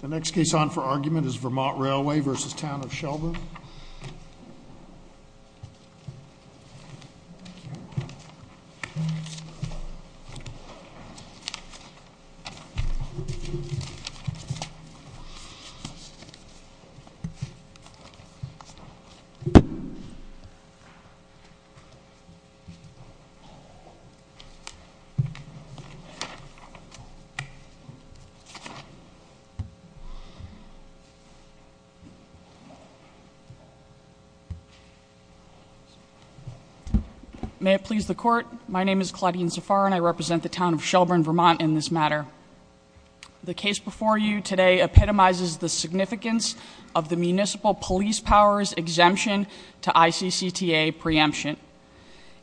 The next case on for argument is Vermont Railway v. Town of Shelburne. May it please the Court, my name is Claudine Zafar and I represent the Town of Shelburne, Vermont, in this matter. The case before you today epitomizes the significance of the municipal police power's exemption to ICCTA preemption.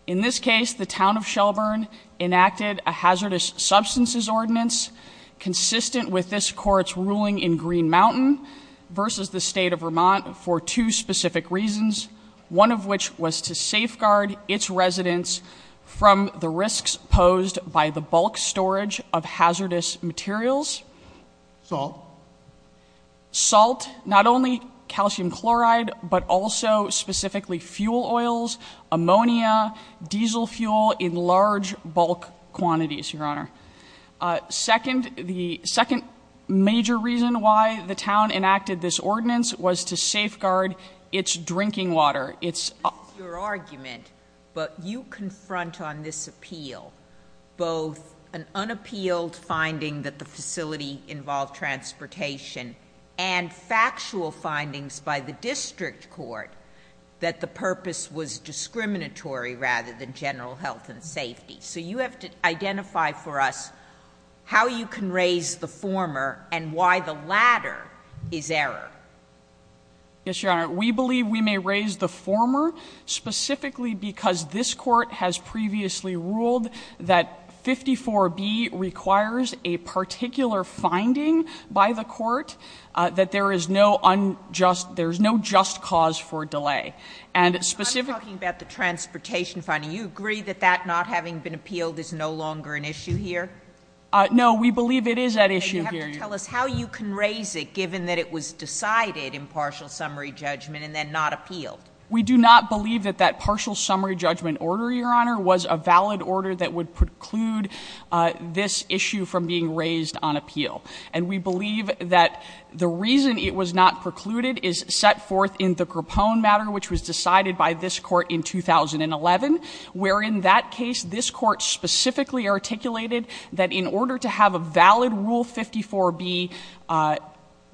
In this case, the Town of Shelburne enacted a hazardous substances ordinance consistent with this Court's ruling in Green Mountain v. the State of Vermont for two specific reasons, one of which was to safeguard its residents from the risks posed by the bulk storage of hazardous materials, salt, not only calcium chloride, but also specifically fuel oils, ammonia, diesel fuel in large bulk quantities, Your Honor. Second, the second major reason why the Town enacted this ordinance was to safeguard its drinking water, its This is your argument, but you confront on this appeal both an unappealed finding that the facility involved transportation and factual findings by the district court that the purpose So you have to identify for us how you can raise the former and why the latter is error. Yes, Your Honor. We believe we may raise the former specifically because this Court has previously ruled that 54B requires a particular finding by the Court that there is no unjust, there's no just cause for delay. I'm talking about the transportation finding. You agree that that not having been appealed is no longer an issue here? No, we believe it is at issue here. You have to tell us how you can raise it given that it was decided in partial summary judgment and then not appealed. We do not believe that that partial summary judgment order, Your Honor, was a valid order that would preclude this issue from being raised on appeal. And we believe that the reason it was not precluded is set forth in the Grappone matter, which was decided by this court in 2011, where in that case, this court specifically articulated that in order to have a valid Rule 54B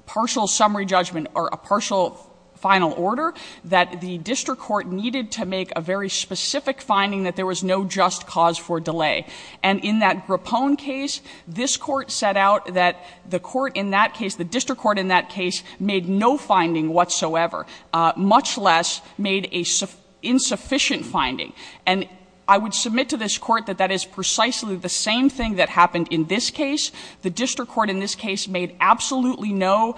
partial summary judgment or a partial final order, that the district court needed to make a very specific finding that there was no just cause for delay. And in that Grappone case, this court set out that the court in that case, the district court in that case, made no finding whatsoever, much less made a insufficient finding. And I would submit to this court that that is precisely the same thing that happened in this case. The district court in this case made absolutely no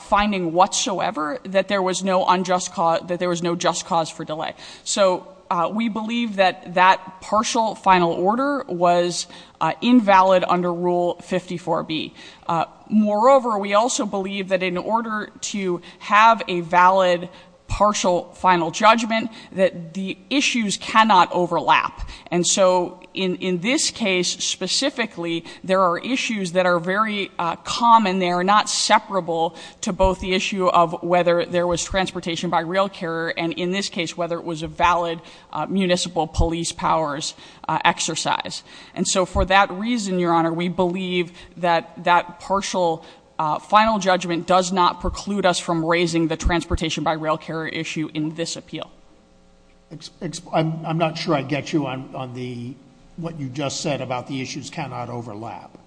finding whatsoever that there was no unjust cause, that there was no just cause for delay. So we believe that that partial final order was invalid under Rule 54B. Moreover, we also believe that in order to have a valid partial final judgment, that the issues cannot overlap. And so in this case specifically, there are issues that are very common. They are not separable to both the issue of whether there was transportation by rail carrier and in this case, whether it was a valid municipal police powers exercise. And so for that reason, your honor, we believe that that partial final judgment does not preclude us from raising the transportation by rail carrier issue in this appeal. I'm not sure I get you on the, what you just said about the issues cannot overlap.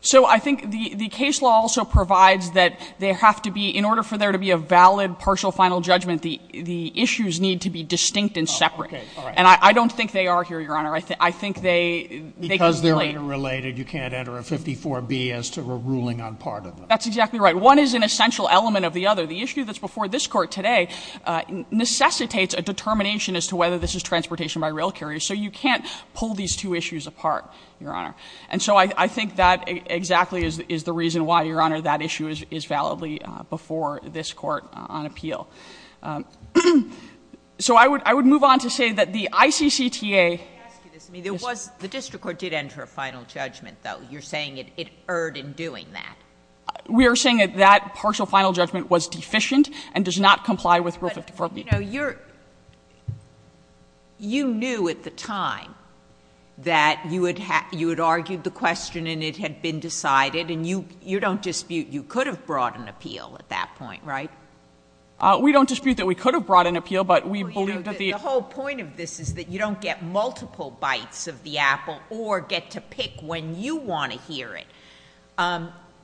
So I think the case law also provides that they have to be, in order for there to be a valid partial final judgment, the issues need to be distinct and separate. And I don't think they are here, your honor. I think they- Because they're interrelated, you can't enter a 54B as to a ruling on part of them. That's exactly right. One is an essential element of the other. The issue that's before this court today necessitates a determination as to whether this is transportation by rail carrier. So you can't pull these two issues apart, your honor. And so I think that exactly is the reason why, your honor, that issue is validly before this court on appeal. So I would move on to say that the ICCTA- Let me ask you this. The district court did enter a final judgment, though. You're saying it erred in doing that. We are saying that that partial final judgment was deficient and does not comply with rule 54B. You knew at the time that you had argued the question and it had been decided, and you don't dispute you could have brought an appeal at that point, right? We don't dispute that we could have brought an appeal, but we believe that the- The whole point of this is that you don't get multiple bites of the apple or get to pick when you want to hear it.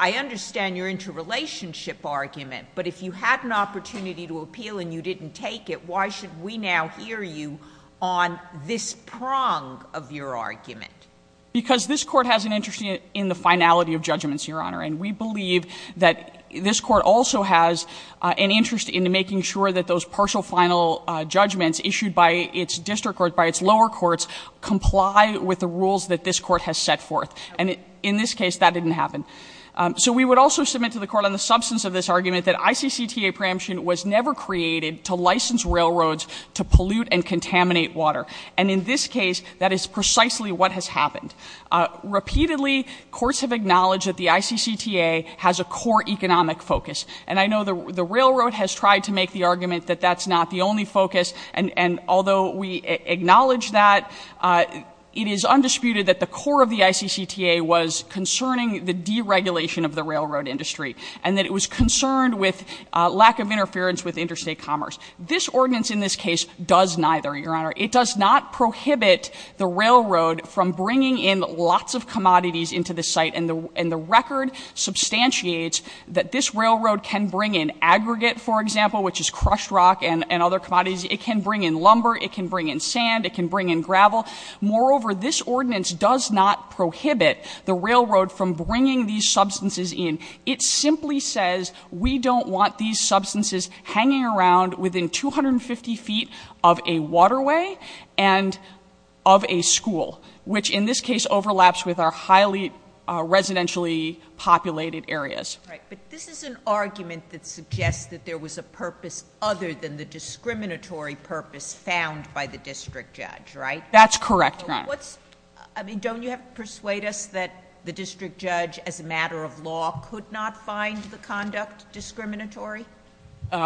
I understand your interrelationship argument, but if you had an opportunity to appeal and you didn't take it, why should we now hear you on this prong of your argument? Because this court has an interest in the finality of judgments, your honor. And we believe that this court also has an interest in making sure that those partial final judgments issued by its district court, by its lower courts, comply with the rules that this court has set forth. And in this case, that didn't happen. So we would also submit to the court on the substance of this argument that ICCTA preemption was never created to license railroads to pollute and contaminate water. And in this case, that is precisely what has happened. Repeatedly, courts have acknowledged that the ICCTA has a core economic focus. And I know the railroad has tried to make the argument that that's not the only focus. And although we acknowledge that, it is undisputed that the core of the ICCTA was concerning the deregulation of the railroad industry. And that it was concerned with lack of interference with interstate commerce. This ordinance in this case does neither, your honor. It does not prohibit the railroad from bringing in lots of commodities into the site. And the record substantiates that this railroad can bring in aggregate, for example, which is crushed rock and other commodities. It can bring in lumber, it can bring in sand, it can bring in gravel. Moreover, this ordinance does not prohibit the railroad from bringing these substances in. It simply says, we don't want these substances hanging around within 250 feet of a waterway and of a school, which in this case overlaps with our highly residentially populated areas. Right, but this is an argument that suggests that there was a purpose other than the discriminatory purpose found by the district judge, right? That's correct, your honor. What's, I mean, don't you have to persuade us that the district judge, as a matter of law, could not find the conduct discriminatory?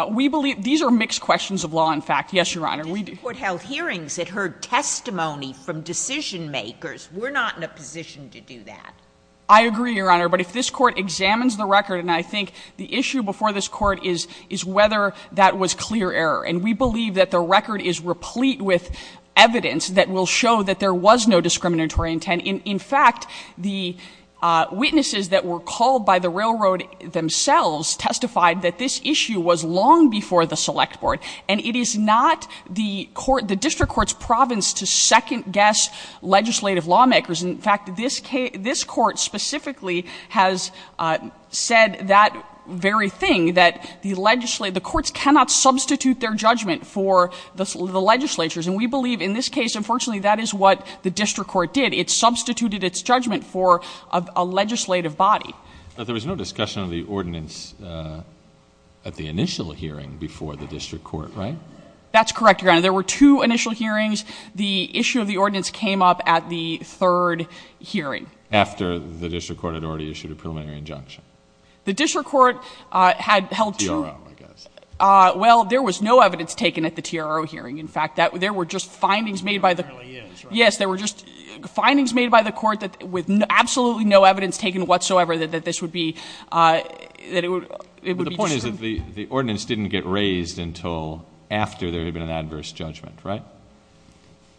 We believe, these are mixed questions of law, in fact. Yes, your honor, we do. The court held hearings, it heard testimony from decision makers. We're not in a position to do that. I agree, your honor, but if this court examines the record, and I think the issue before this court is whether that was clear error. And we believe that the record is replete with evidence that will show that there was no discriminatory intent. In fact, the witnesses that were called by the railroad themselves testified that this issue was long before the select board. And it is not the district court's province to second guess legislative lawmakers. In fact, this court specifically has said that very thing, that the courts cannot substitute their judgment for the legislatures. And we believe in this case, unfortunately, that is what the district court did. It substituted its judgment for a legislative body. But there was no discussion of the ordinance at the initial hearing before the district court, right? That's correct, your honor. There were two initial hearings. The issue of the ordinance came up at the third hearing. After the district court had already issued a preliminary injunction. The district court had held two- TRO, I guess. Well, there was no evidence taken at the TRO hearing. In fact, there were just findings made by the- There apparently is, right? Yes, there were just findings made by the court with absolutely no evidence taken whatsoever that this would be, that it would be- The point is that the ordinance didn't get raised until after there had been an adverse judgment, right?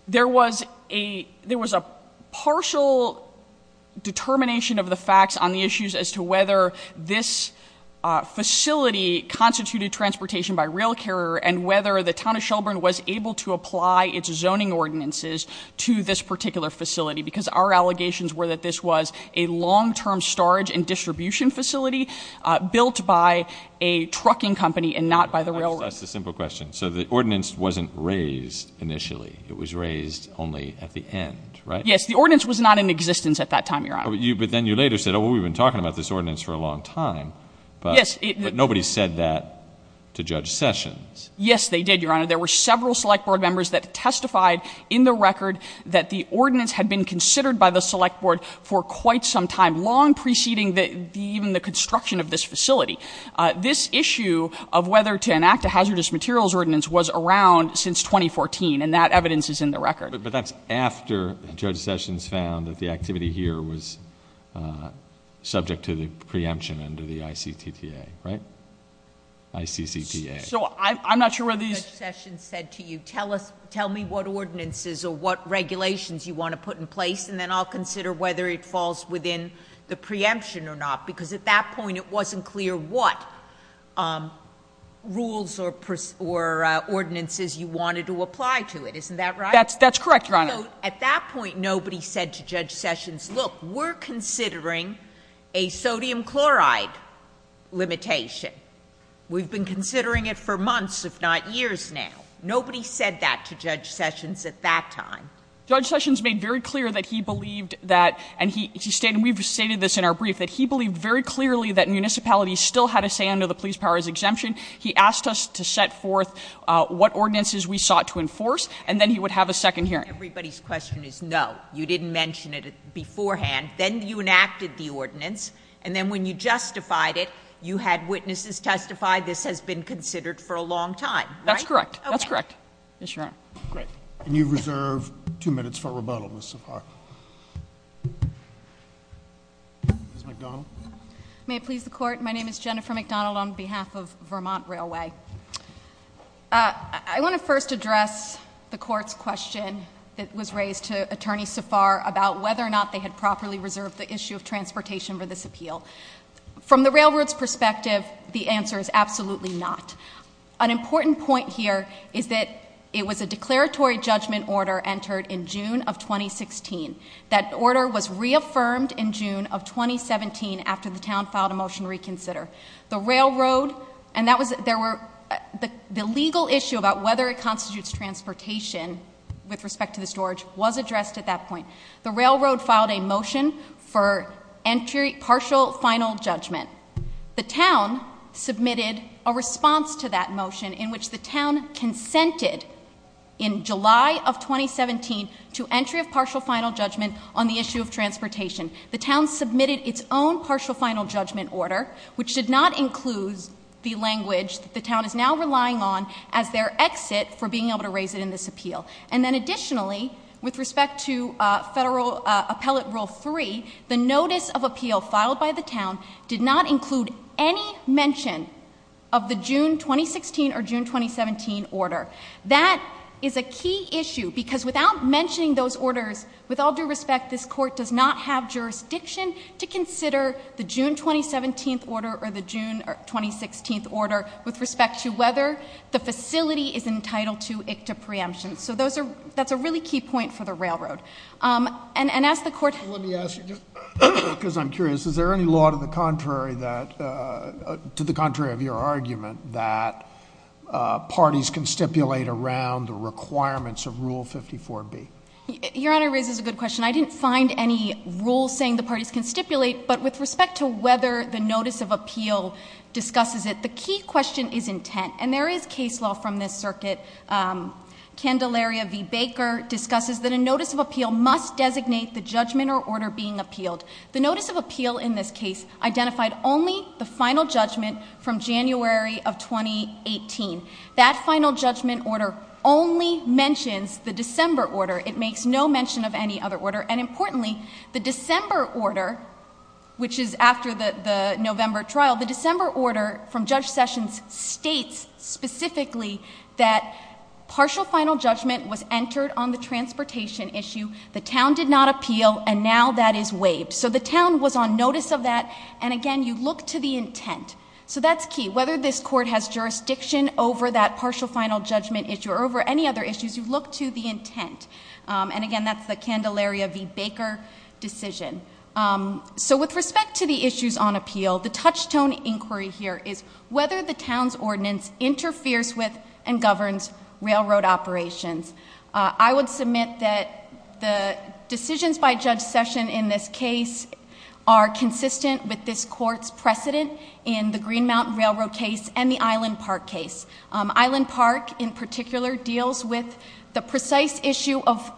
There was a partial determination of the facts on the issues as to whether this facility constituted transportation by rail carrier and whether the town of Shelburne was able to apply its zoning ordinances to this particular facility. Because our allegations were that this was a long term storage and a trucking company and not by the railroad. That's a simple question. So the ordinance wasn't raised initially. It was raised only at the end, right? Yes, the ordinance was not in existence at that time, your honor. But then you later said, well, we've been talking about this ordinance for a long time, but nobody said that to Judge Sessions. Yes, they did, your honor. There were several select board members that testified in the record that the ordinance had been considered by the select board for this issue of whether to enact a hazardous materials ordinance was around since 2014, and that evidence is in the record. But that's after Judge Sessions found that the activity here was subject to the preemption under the ICTTA, right? ICCTA. So I'm not sure whether these- Judge Sessions said to you, tell me what ordinances or what regulations you want to put in place, and then I'll consider whether it falls within the preemption or not, because at that point, it wasn't clear what rules or ordinances you wanted to apply to it. Isn't that right? That's correct, your honor. At that point, nobody said to Judge Sessions, look, we're considering a sodium chloride limitation. We've been considering it for months, if not years now. Nobody said that to Judge Sessions at that time. Judge Sessions made very clear that he believed that, and he stated, and we've stated this in our brief, that he believed very clearly that municipalities still had a say under the police powers exemption. He asked us to set forth what ordinances we sought to enforce, and then he would have a second hearing. Everybody's question is no. You didn't mention it beforehand. Then you enacted the ordinance, and then when you justified it, you had witnesses testify this has been considered for a long time. That's correct. That's correct. Yes, your honor. Great. And you've reserved two minutes for rebuttal, Ms. Safar. Ms. McDonald? May it please the court, my name is Jennifer McDonald on behalf of Vermont Railway. I want to first address the court's question that was raised to Attorney Safar about whether or not they had properly reserved the issue of transportation for this appeal. From the railroad's perspective, the answer is absolutely not. An important point here is that it was a declaratory judgment order entered in June of 2016. That order was reaffirmed in June of 2017 after the town filed a motion to reconsider. The railroad, and the legal issue about whether it constitutes transportation, with respect to the storage, was addressed at that point. The railroad filed a motion for partial final judgment. The town submitted a response to that motion in which the town consented in July of 2017 to entry of partial final judgment on the issue of transportation. The town submitted its own partial final judgment order, which did not include the language that the town is now relying on as their exit for being able to raise it in this appeal. And then additionally, with respect to federal appellate rule three, the notice of appeal filed by the town did not include any mention of the June 2016 or June 2017 order. That is a key issue, because without mentioning those orders, with all due respect, this court does not have jurisdiction to consider the June 2017 order or the June 2016 order with respect to whether the facility is entitled to ICTA preemption. So that's a really key point for the railroad. And as the court- Let me ask you, just because I'm curious, is there any law to the contrary of your argument that parties can stipulate around the requirements of rule 54B? Your Honor raises a good question. I didn't find any rule saying the parties can stipulate, but with respect to whether the notice of appeal discusses it, the key question is intent. And there is case law from this circuit. Candelaria v Baker discusses that a notice of appeal must designate the judgment or order being appealed. The notice of appeal in this case identified only the final judgment from January of 2018. That final judgment order only mentions the December order. It makes no mention of any other order. And importantly, the December order, which is after the November trial, the December order from Judge Sessions states specifically that partial final judgment was entered on the transportation issue, the town did not appeal, and now that is waived. So the town was on notice of that, and again, you look to the intent. So that's key. Whether this court has jurisdiction over that partial final judgment issue or over any other issues, you look to the intent. And again, that's the Candelaria v Baker decision. So with respect to the issues on appeal, the touchstone inquiry here is whether the town's ordinance interferes with and governs railroad operations. I would submit that the decisions by Judge Session in this case are consistent with this court's precedent in the Green Mountain Railroad case and the Island Park case. Island Park, in particular, deals with the precise issue of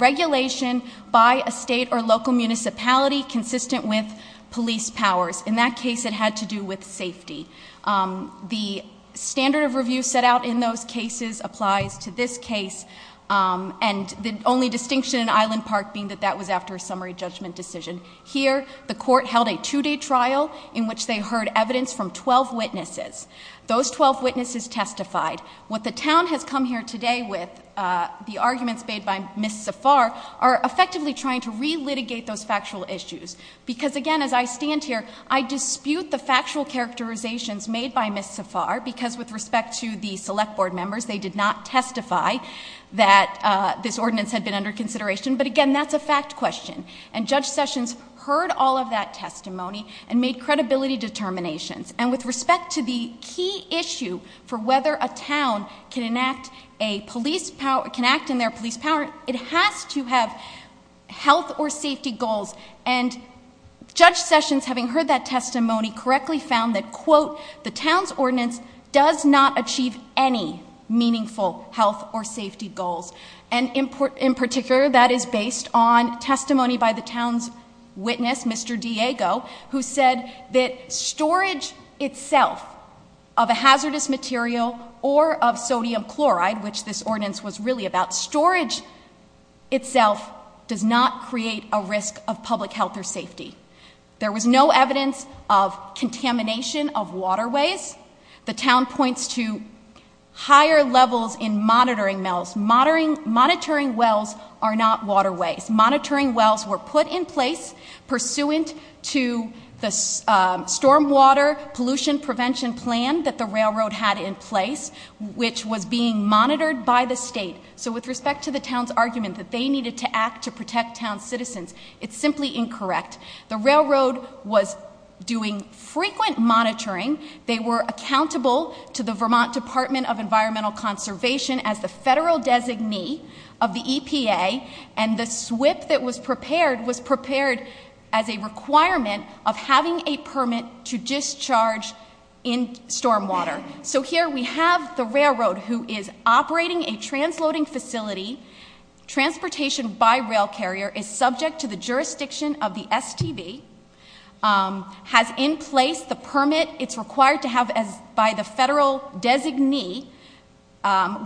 regulation by a state or local municipality consistent with police powers. In that case, it had to do with safety. The standard of review set out in those cases applies to this case. And the only distinction in Island Park being that that was after a summary judgment decision. Here, the court held a two day trial in which they heard evidence from 12 witnesses. Those 12 witnesses testified. What the town has come here today with, the arguments made by Ms. Safar, are effectively trying to re-litigate those factual issues. Because again, as I stand here, I dispute the factual characterizations made by Ms. Safar, because with respect to the select board members, they did not testify that this ordinance had been under consideration. But again, that's a fact question. And Judge Sessions heard all of that testimony and made credibility determinations. And with respect to the key issue for whether a town can enact a police power, can act in their police power, it has to have health or safety goals. And Judge Sessions, having heard that testimony, correctly found that, quote, the town's ordinance does not achieve any meaningful health or safety goals. And in particular, that is based on testimony by the town's witness, Mr. Diego, who said that storage itself of a hazardous material or of sodium chloride, which this ordinance was really about, storage itself does not create a risk of public health or safety. There was no evidence of contamination of waterways. The town points to higher levels in monitoring wells. Monitoring wells are not waterways. Monitoring wells were put in place pursuant to the storm water pollution prevention plan that the railroad had in place, which was being monitored by the state. So with respect to the town's argument that they needed to act to protect town citizens, it's simply incorrect. The railroad was doing frequent monitoring. They were accountable to the Vermont Department of Environmental Conservation as the federal designee of the EPA and the SWIP that was prepared was prepared as a requirement of having a permit to discharge in storm water. So here we have the railroad who is operating a transloading facility. Transportation by rail carrier is subject to the jurisdiction of the STB. Has in place the permit it's required to have by the federal designee,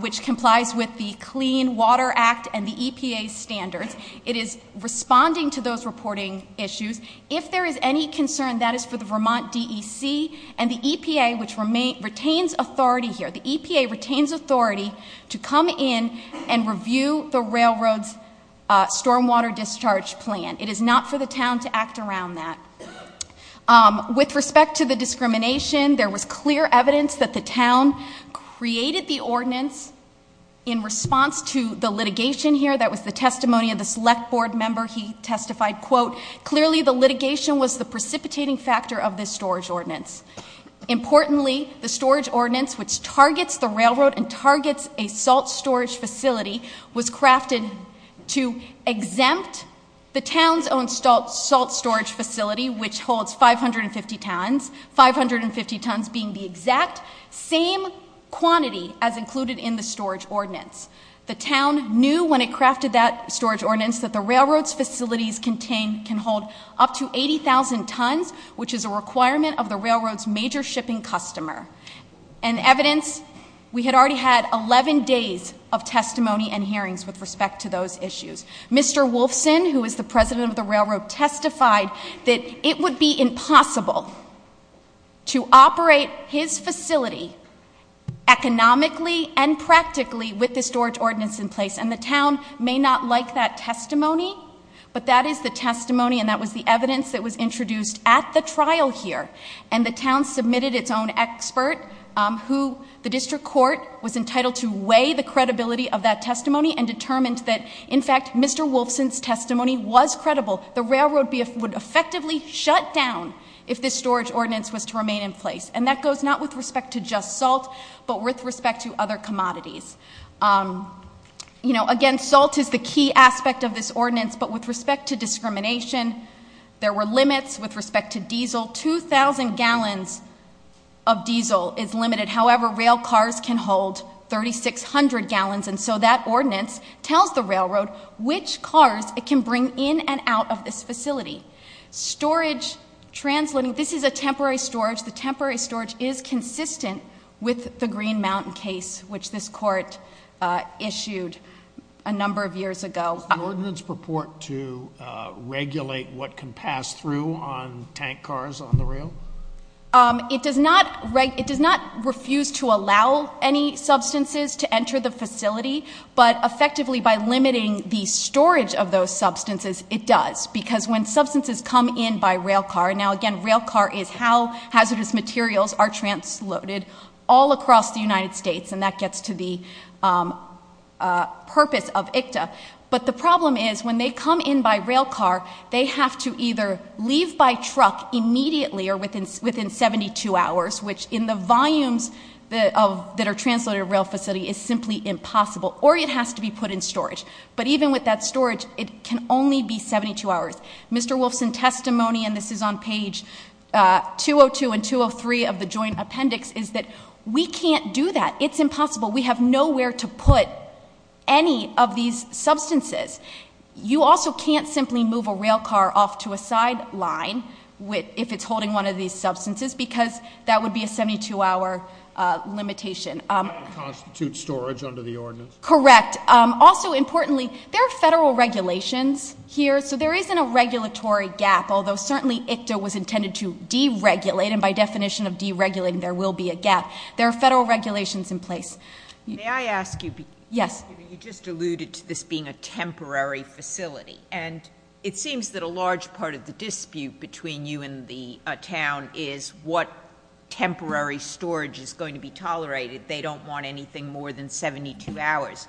which complies with the Clean Water Act and the EPA standards. It is responding to those reporting issues. If there is any concern, that is for the Vermont DEC and the EPA, which retains authority here. The EPA retains authority to come in and review the railroad's storm water discharge plan. It is not for the town to act around that. With respect to the discrimination, there was clear evidence that the town created the ordinance in response to the litigation here that was the testimony of the select board member. He testified, quote, clearly the litigation was the precipitating factor of this storage ordinance. Importantly, the storage ordinance which targets the railroad and targets a salt storage facility was crafted to exempt the town's own salt storage facility, which holds 550 tons. 550 tons being the exact same quantity as included in the storage ordinance. The town knew when it crafted that storage ordinance that the railroad's facilities can hold up to 80,000 tons, which is a requirement of the railroad's major shipping customer. And evidence, we had already had 11 days of testimony and hearings with respect to those issues. Mr. Wolfson, who is the president of the railroad, testified that it would be impossible to operate his facility economically and practically with this storage ordinance in place. And the town may not like that testimony, but that is the testimony and that was the evidence that was introduced at the trial here. And the town submitted its own expert, who the district court was entitled to Mr. Wolfson's testimony was credible. The railroad would effectively shut down if this storage ordinance was to remain in place. And that goes not with respect to just salt, but with respect to other commodities. Again, salt is the key aspect of this ordinance, but with respect to discrimination, there were limits. With respect to diesel, 2,000 gallons of diesel is limited. However, rail cars can hold 3,600 gallons. And so that ordinance tells the railroad which cars it can bring in and out of this facility. Storage, translating, this is a temporary storage. The temporary storage is consistent with the Green Mountain case, which this court issued a number of years ago. Does the ordinance purport to regulate what can pass through on tank cars on the rail? It does not refuse to allow any substances to enter the facility. But effectively, by limiting the storage of those substances, it does. Because when substances come in by rail car, now again, rail car is how hazardous materials are transloaded all across the United States, and that gets to the purpose of ICTA. But the problem is, when they come in by rail car, they have to either leave by truck immediately or within 72 hours, which in the volumes that are transloaded in rail facility is simply impossible. Or it has to be put in storage. But even with that storage, it can only be 72 hours. Mr. Wolfson's testimony, and this is on page 202 and 203 of the joint appendix, is that we can't do that. It's impossible. We have nowhere to put any of these substances. You also can't simply move a rail car off to a side line if it's holding one of these substances, because that would be a 72 hour limitation. That would constitute storage under the ordinance. Correct. Also importantly, there are federal regulations here, so there isn't a regulatory gap. Although certainly, ICTA was intended to deregulate, and by definition of deregulating, there will be a gap. There are federal regulations in place. May I ask you- Yes. You just alluded to this being a temporary facility. And it seems that a large part of the dispute between you and the town is what temporary storage is going to be tolerated. They don't want anything more than 72 hours.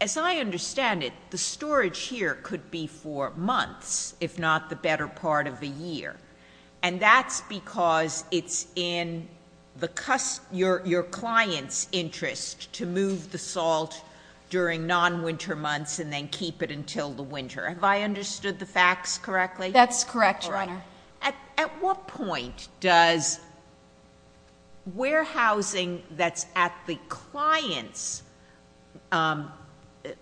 As I understand it, the storage here could be for months, if not the better part of a year. And that's because it's in your client's interest to move the salt during non-winter months and then keep it until the winter. Have I understood the facts correctly? That's correct, Your Honor. At what point does warehousing that's at the client's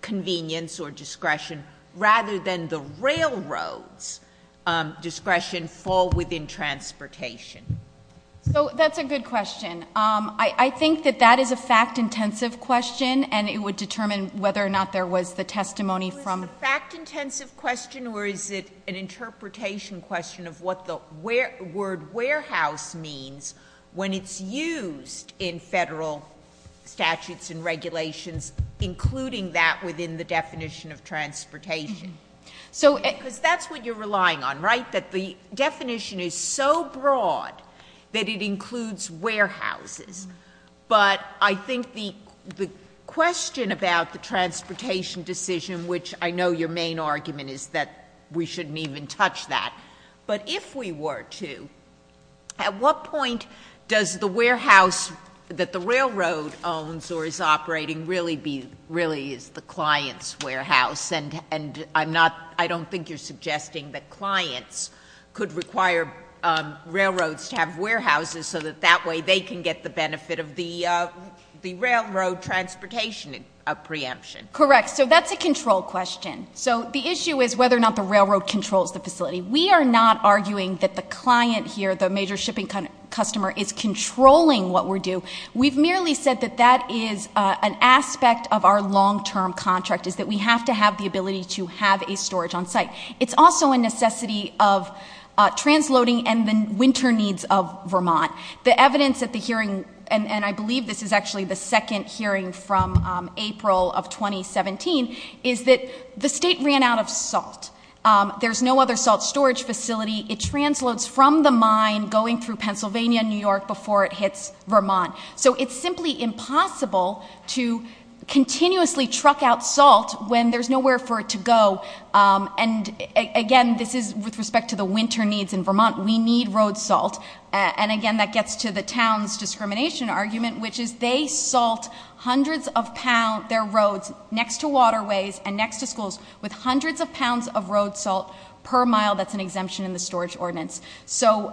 convenience or discretion rather than the railroad's discretion fall within transportation? So that's a good question. I think that that is a fact-intensive question, and it would determine whether or not there was the testimony from- It was a fact-intensive question, or is it an interpretation question of what the word warehouse means when it's used in federal statutes and in the definition of transportation, because that's what you're relying on, right? That the definition is so broad that it includes warehouses. But I think the question about the transportation decision, which I know your main argument is that we shouldn't even touch that. But if we were to, at what point does the warehouse that the railroad owns or is operating really is the client's warehouse? And I don't think you're suggesting that clients could require railroads to have warehouses so that that way they can get the benefit of the railroad transportation preemption. Correct, so that's a control question. So the issue is whether or not the railroad controls the facility. We are not arguing that the client here, the major shipping customer, is controlling what we do. We've merely said that that is an aspect of our long-term contract, is that we have to have the ability to have a storage on site. It's also a necessity of transloading and the winter needs of Vermont. The evidence at the hearing, and I believe this is actually the second hearing from April of 2017, is that the state ran out of salt. There's no other salt storage facility. It transloads from the mine going through Pennsylvania and New York before it hits Vermont. So it's simply impossible to continuously truck out salt when there's nowhere for it to go. And again, this is with respect to the winter needs in Vermont. We need road salt. And again, that gets to the town's discrimination argument, which is they salt hundreds of pounds, their roads next to waterways and next to schools with hundreds of pounds of road salt per mile that's an exemption in the storage ordinance. So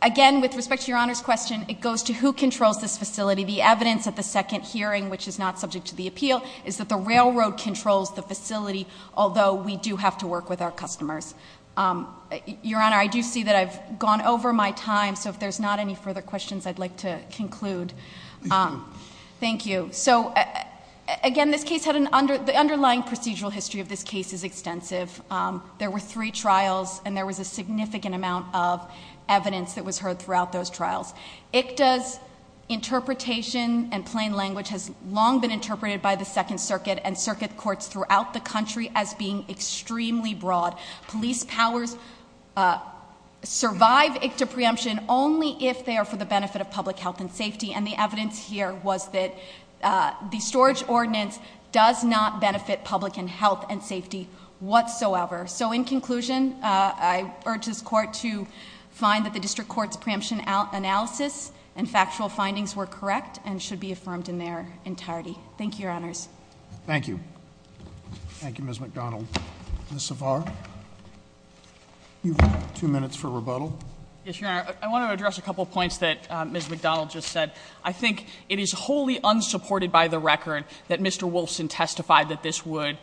again, with respect to your Honor's question, it goes to who controls this facility. The evidence at the second hearing, which is not subject to the appeal, is that the railroad controls the facility, although we do have to work with our customers. Your Honor, I do see that I've gone over my time, so if there's not any further questions, I'd like to conclude. Thank you. So again, the underlying procedural history of this case is extensive. There were three trials, and there was a significant amount of evidence that was heard throughout those trials. ICTA's interpretation and plain language has long been interpreted by the Second Circuit and circuit courts throughout the country as being extremely broad. Police powers survive ICTA preemption only if they are for the benefit of public health and safety, and the evidence here was that the storage ordinance does not benefit public and health and safety whatsoever. So in conclusion, I urge this court to find that the district court's preemption analysis and factual findings were correct and should be affirmed in their entirety. Thank you, Your Honors. Thank you. Thank you, Ms. McDonald. Ms. Savar, you've got two minutes for rebuttal. Yes, Your Honor. I want to address a couple points that Ms. McDonald just said. I think it is wholly unsupported by the record that Mr. Wolfson testified that this would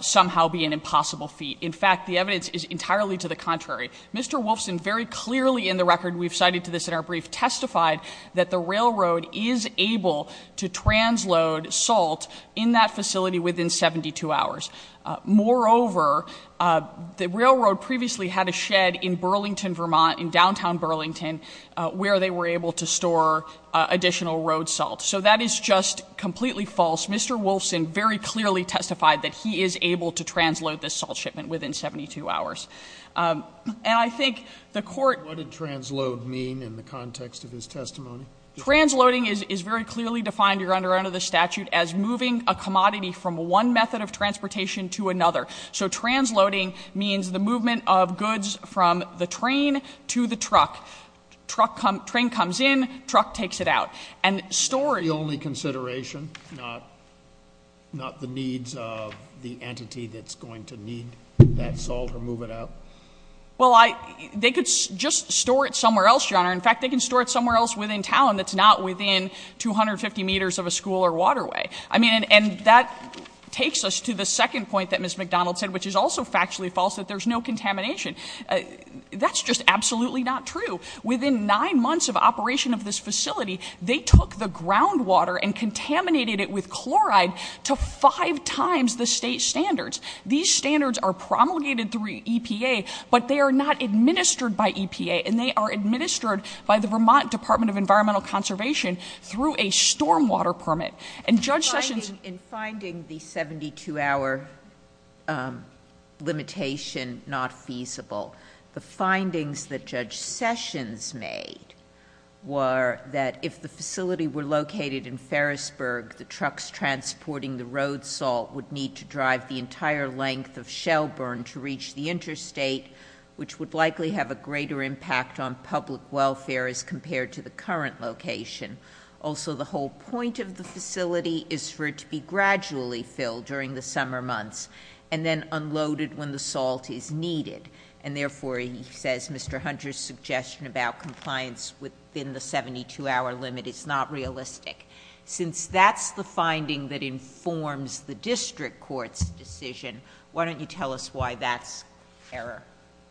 somehow be an impossible feat. In fact, the evidence is entirely to the contrary. Mr. Wolfson very clearly in the record, we've cited to this in our brief, testified that the railroad is able to transload salt in that facility within 72 hours. Moreover, the railroad previously had a shed in Burlington, Vermont, in downtown Burlington, where they were able to store additional road salt. So that is just completely false. Mr. Wolfson very clearly testified that he is able to transload this salt shipment within 72 hours. And I think the court- What did transload mean in the context of his testimony? Transloading is very clearly defined here under the statute as moving a commodity from one method of transportation to another. So transloading means the movement of goods from the train to the truck. Train comes in, truck takes it out. And storing- The only consideration, not the needs of the entity that's going to need that salt or move it out? In fact, they can store it somewhere else within town that's not within 250 meters of a school or waterway. I mean, and that takes us to the second point that Ms. McDonald said, which is also factually false, that there's no contamination. That's just absolutely not true. Within nine months of operation of this facility, they took the groundwater and contaminated it with chloride to five times the state standards. These standards are promulgated through EPA, but they are not administered by EPA. And they are administered by the Vermont Department of Environmental Conservation through a storm water permit. And Judge Sessions- In finding the 72 hour limitation not feasible, the findings that Judge Sessions made were that if the facility were located in Ferrisburg, the trucks transporting the road salt would need to drive the entire length of Shelburne to reach the interstate, which would likely have a greater impact on public welfare as compared to the current location. Also, the whole point of the facility is for it to be gradually filled during the summer months, and then unloaded when the salt is needed. And therefore, he says, Mr. Hunter's suggestion about compliance within the 72 hour limit is not realistic. Since that's the finding that informs the district court's decision, why don't you tell us why that's error?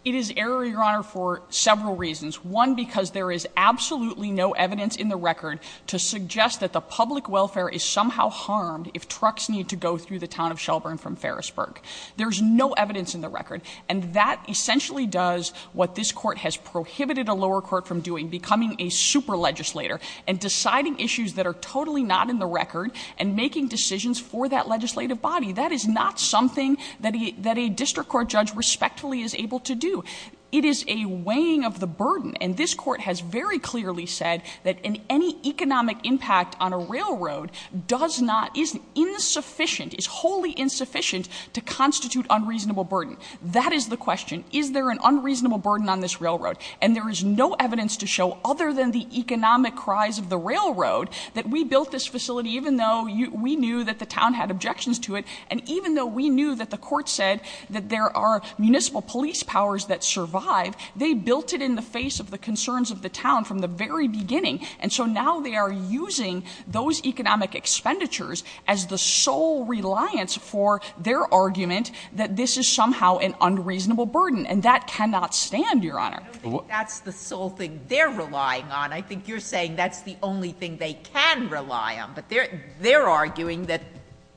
It is error, Your Honor, for several reasons. One, because there is absolutely no evidence in the record to suggest that the public welfare is somehow harmed if trucks need to go through the town of Shelburne from Ferrisburg. There's no evidence in the record. And that essentially does what this court has prohibited a lower court from doing, becoming a super legislator and deciding issues that are totally not in the record and making decisions for that legislative body. That is not something that a district court judge respectfully is able to do. It is a weighing of the burden. And this court has very clearly said that any economic impact on a railroad does not, is insufficient, is wholly insufficient to constitute unreasonable burden. That is the question. Is there an unreasonable burden on this railroad? And there is no evidence to show, other than the economic cries of the railroad, that we built this facility even though we knew that the town had objections to it. And even though we knew that the court said that there are municipal police powers that survive, they built it in the face of the concerns of the town from the very beginning. And so now they are using those economic expenditures as the sole reliance for their argument that this is somehow an unreasonable burden, and that cannot stand, Your Honor. I don't think that's the sole thing they're relying on. I think you're saying that's the only thing they can rely on. But they're arguing that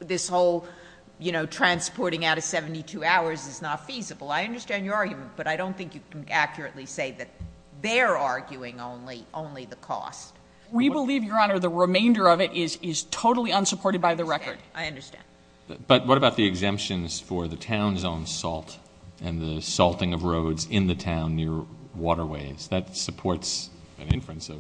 this whole transporting out of 72 hours is not feasible. I understand your argument, but I don't think you can accurately say that they're arguing only the cost. We believe, Your Honor, the remainder of it is totally unsupported by the record. I understand. But what about the exemptions for the town's own salt and the salting of roads in the town near waterways? That supports an inference of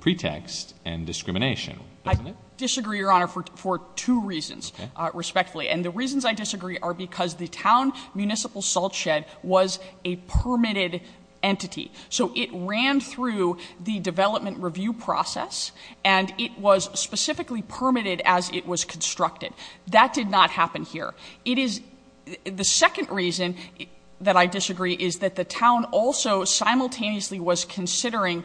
pretext and discrimination, doesn't it? I disagree, Your Honor, for two reasons, respectfully. And the reasons I disagree are because the town municipal salt shed was a permitted entity. So it ran through the development review process, and it was specifically permitted as it was constructed. That did not happen here. The second reason that I disagree is that the town also simultaneously was considering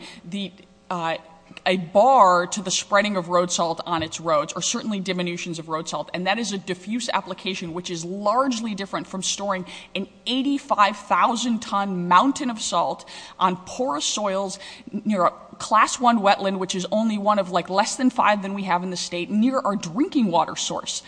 a bar to the spreading of road salt on its roads, or certainly diminutions of road salt. And that is a diffuse application, which is largely different from storing an 85,000 ton mountain of salt on porous soils near a class one wetland, which is only one of less than five than we have in the state, near our drinking water source.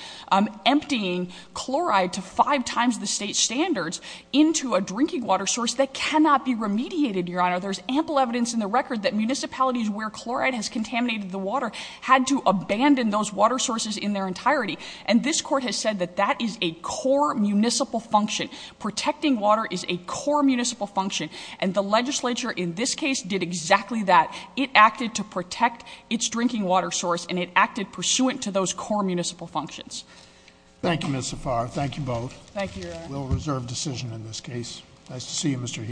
Emptying chloride to five times the state standards into a drinking water source that cannot be remediated, Your Honor. There's ample evidence in the record that municipalities where chloride has contaminated the water had to abandon those water sources in their entirety. And this court has said that that is a core municipal function. Protecting water is a core municipal function. And the legislature in this case did exactly that. It acted to protect its drinking water source, and it acted pursuant to those core municipal functions. Thank you, Ms. Zafar. Thank you both. Thank you, Your Honor. We'll reserve decision in this case. Nice to see you, Mr. Heath.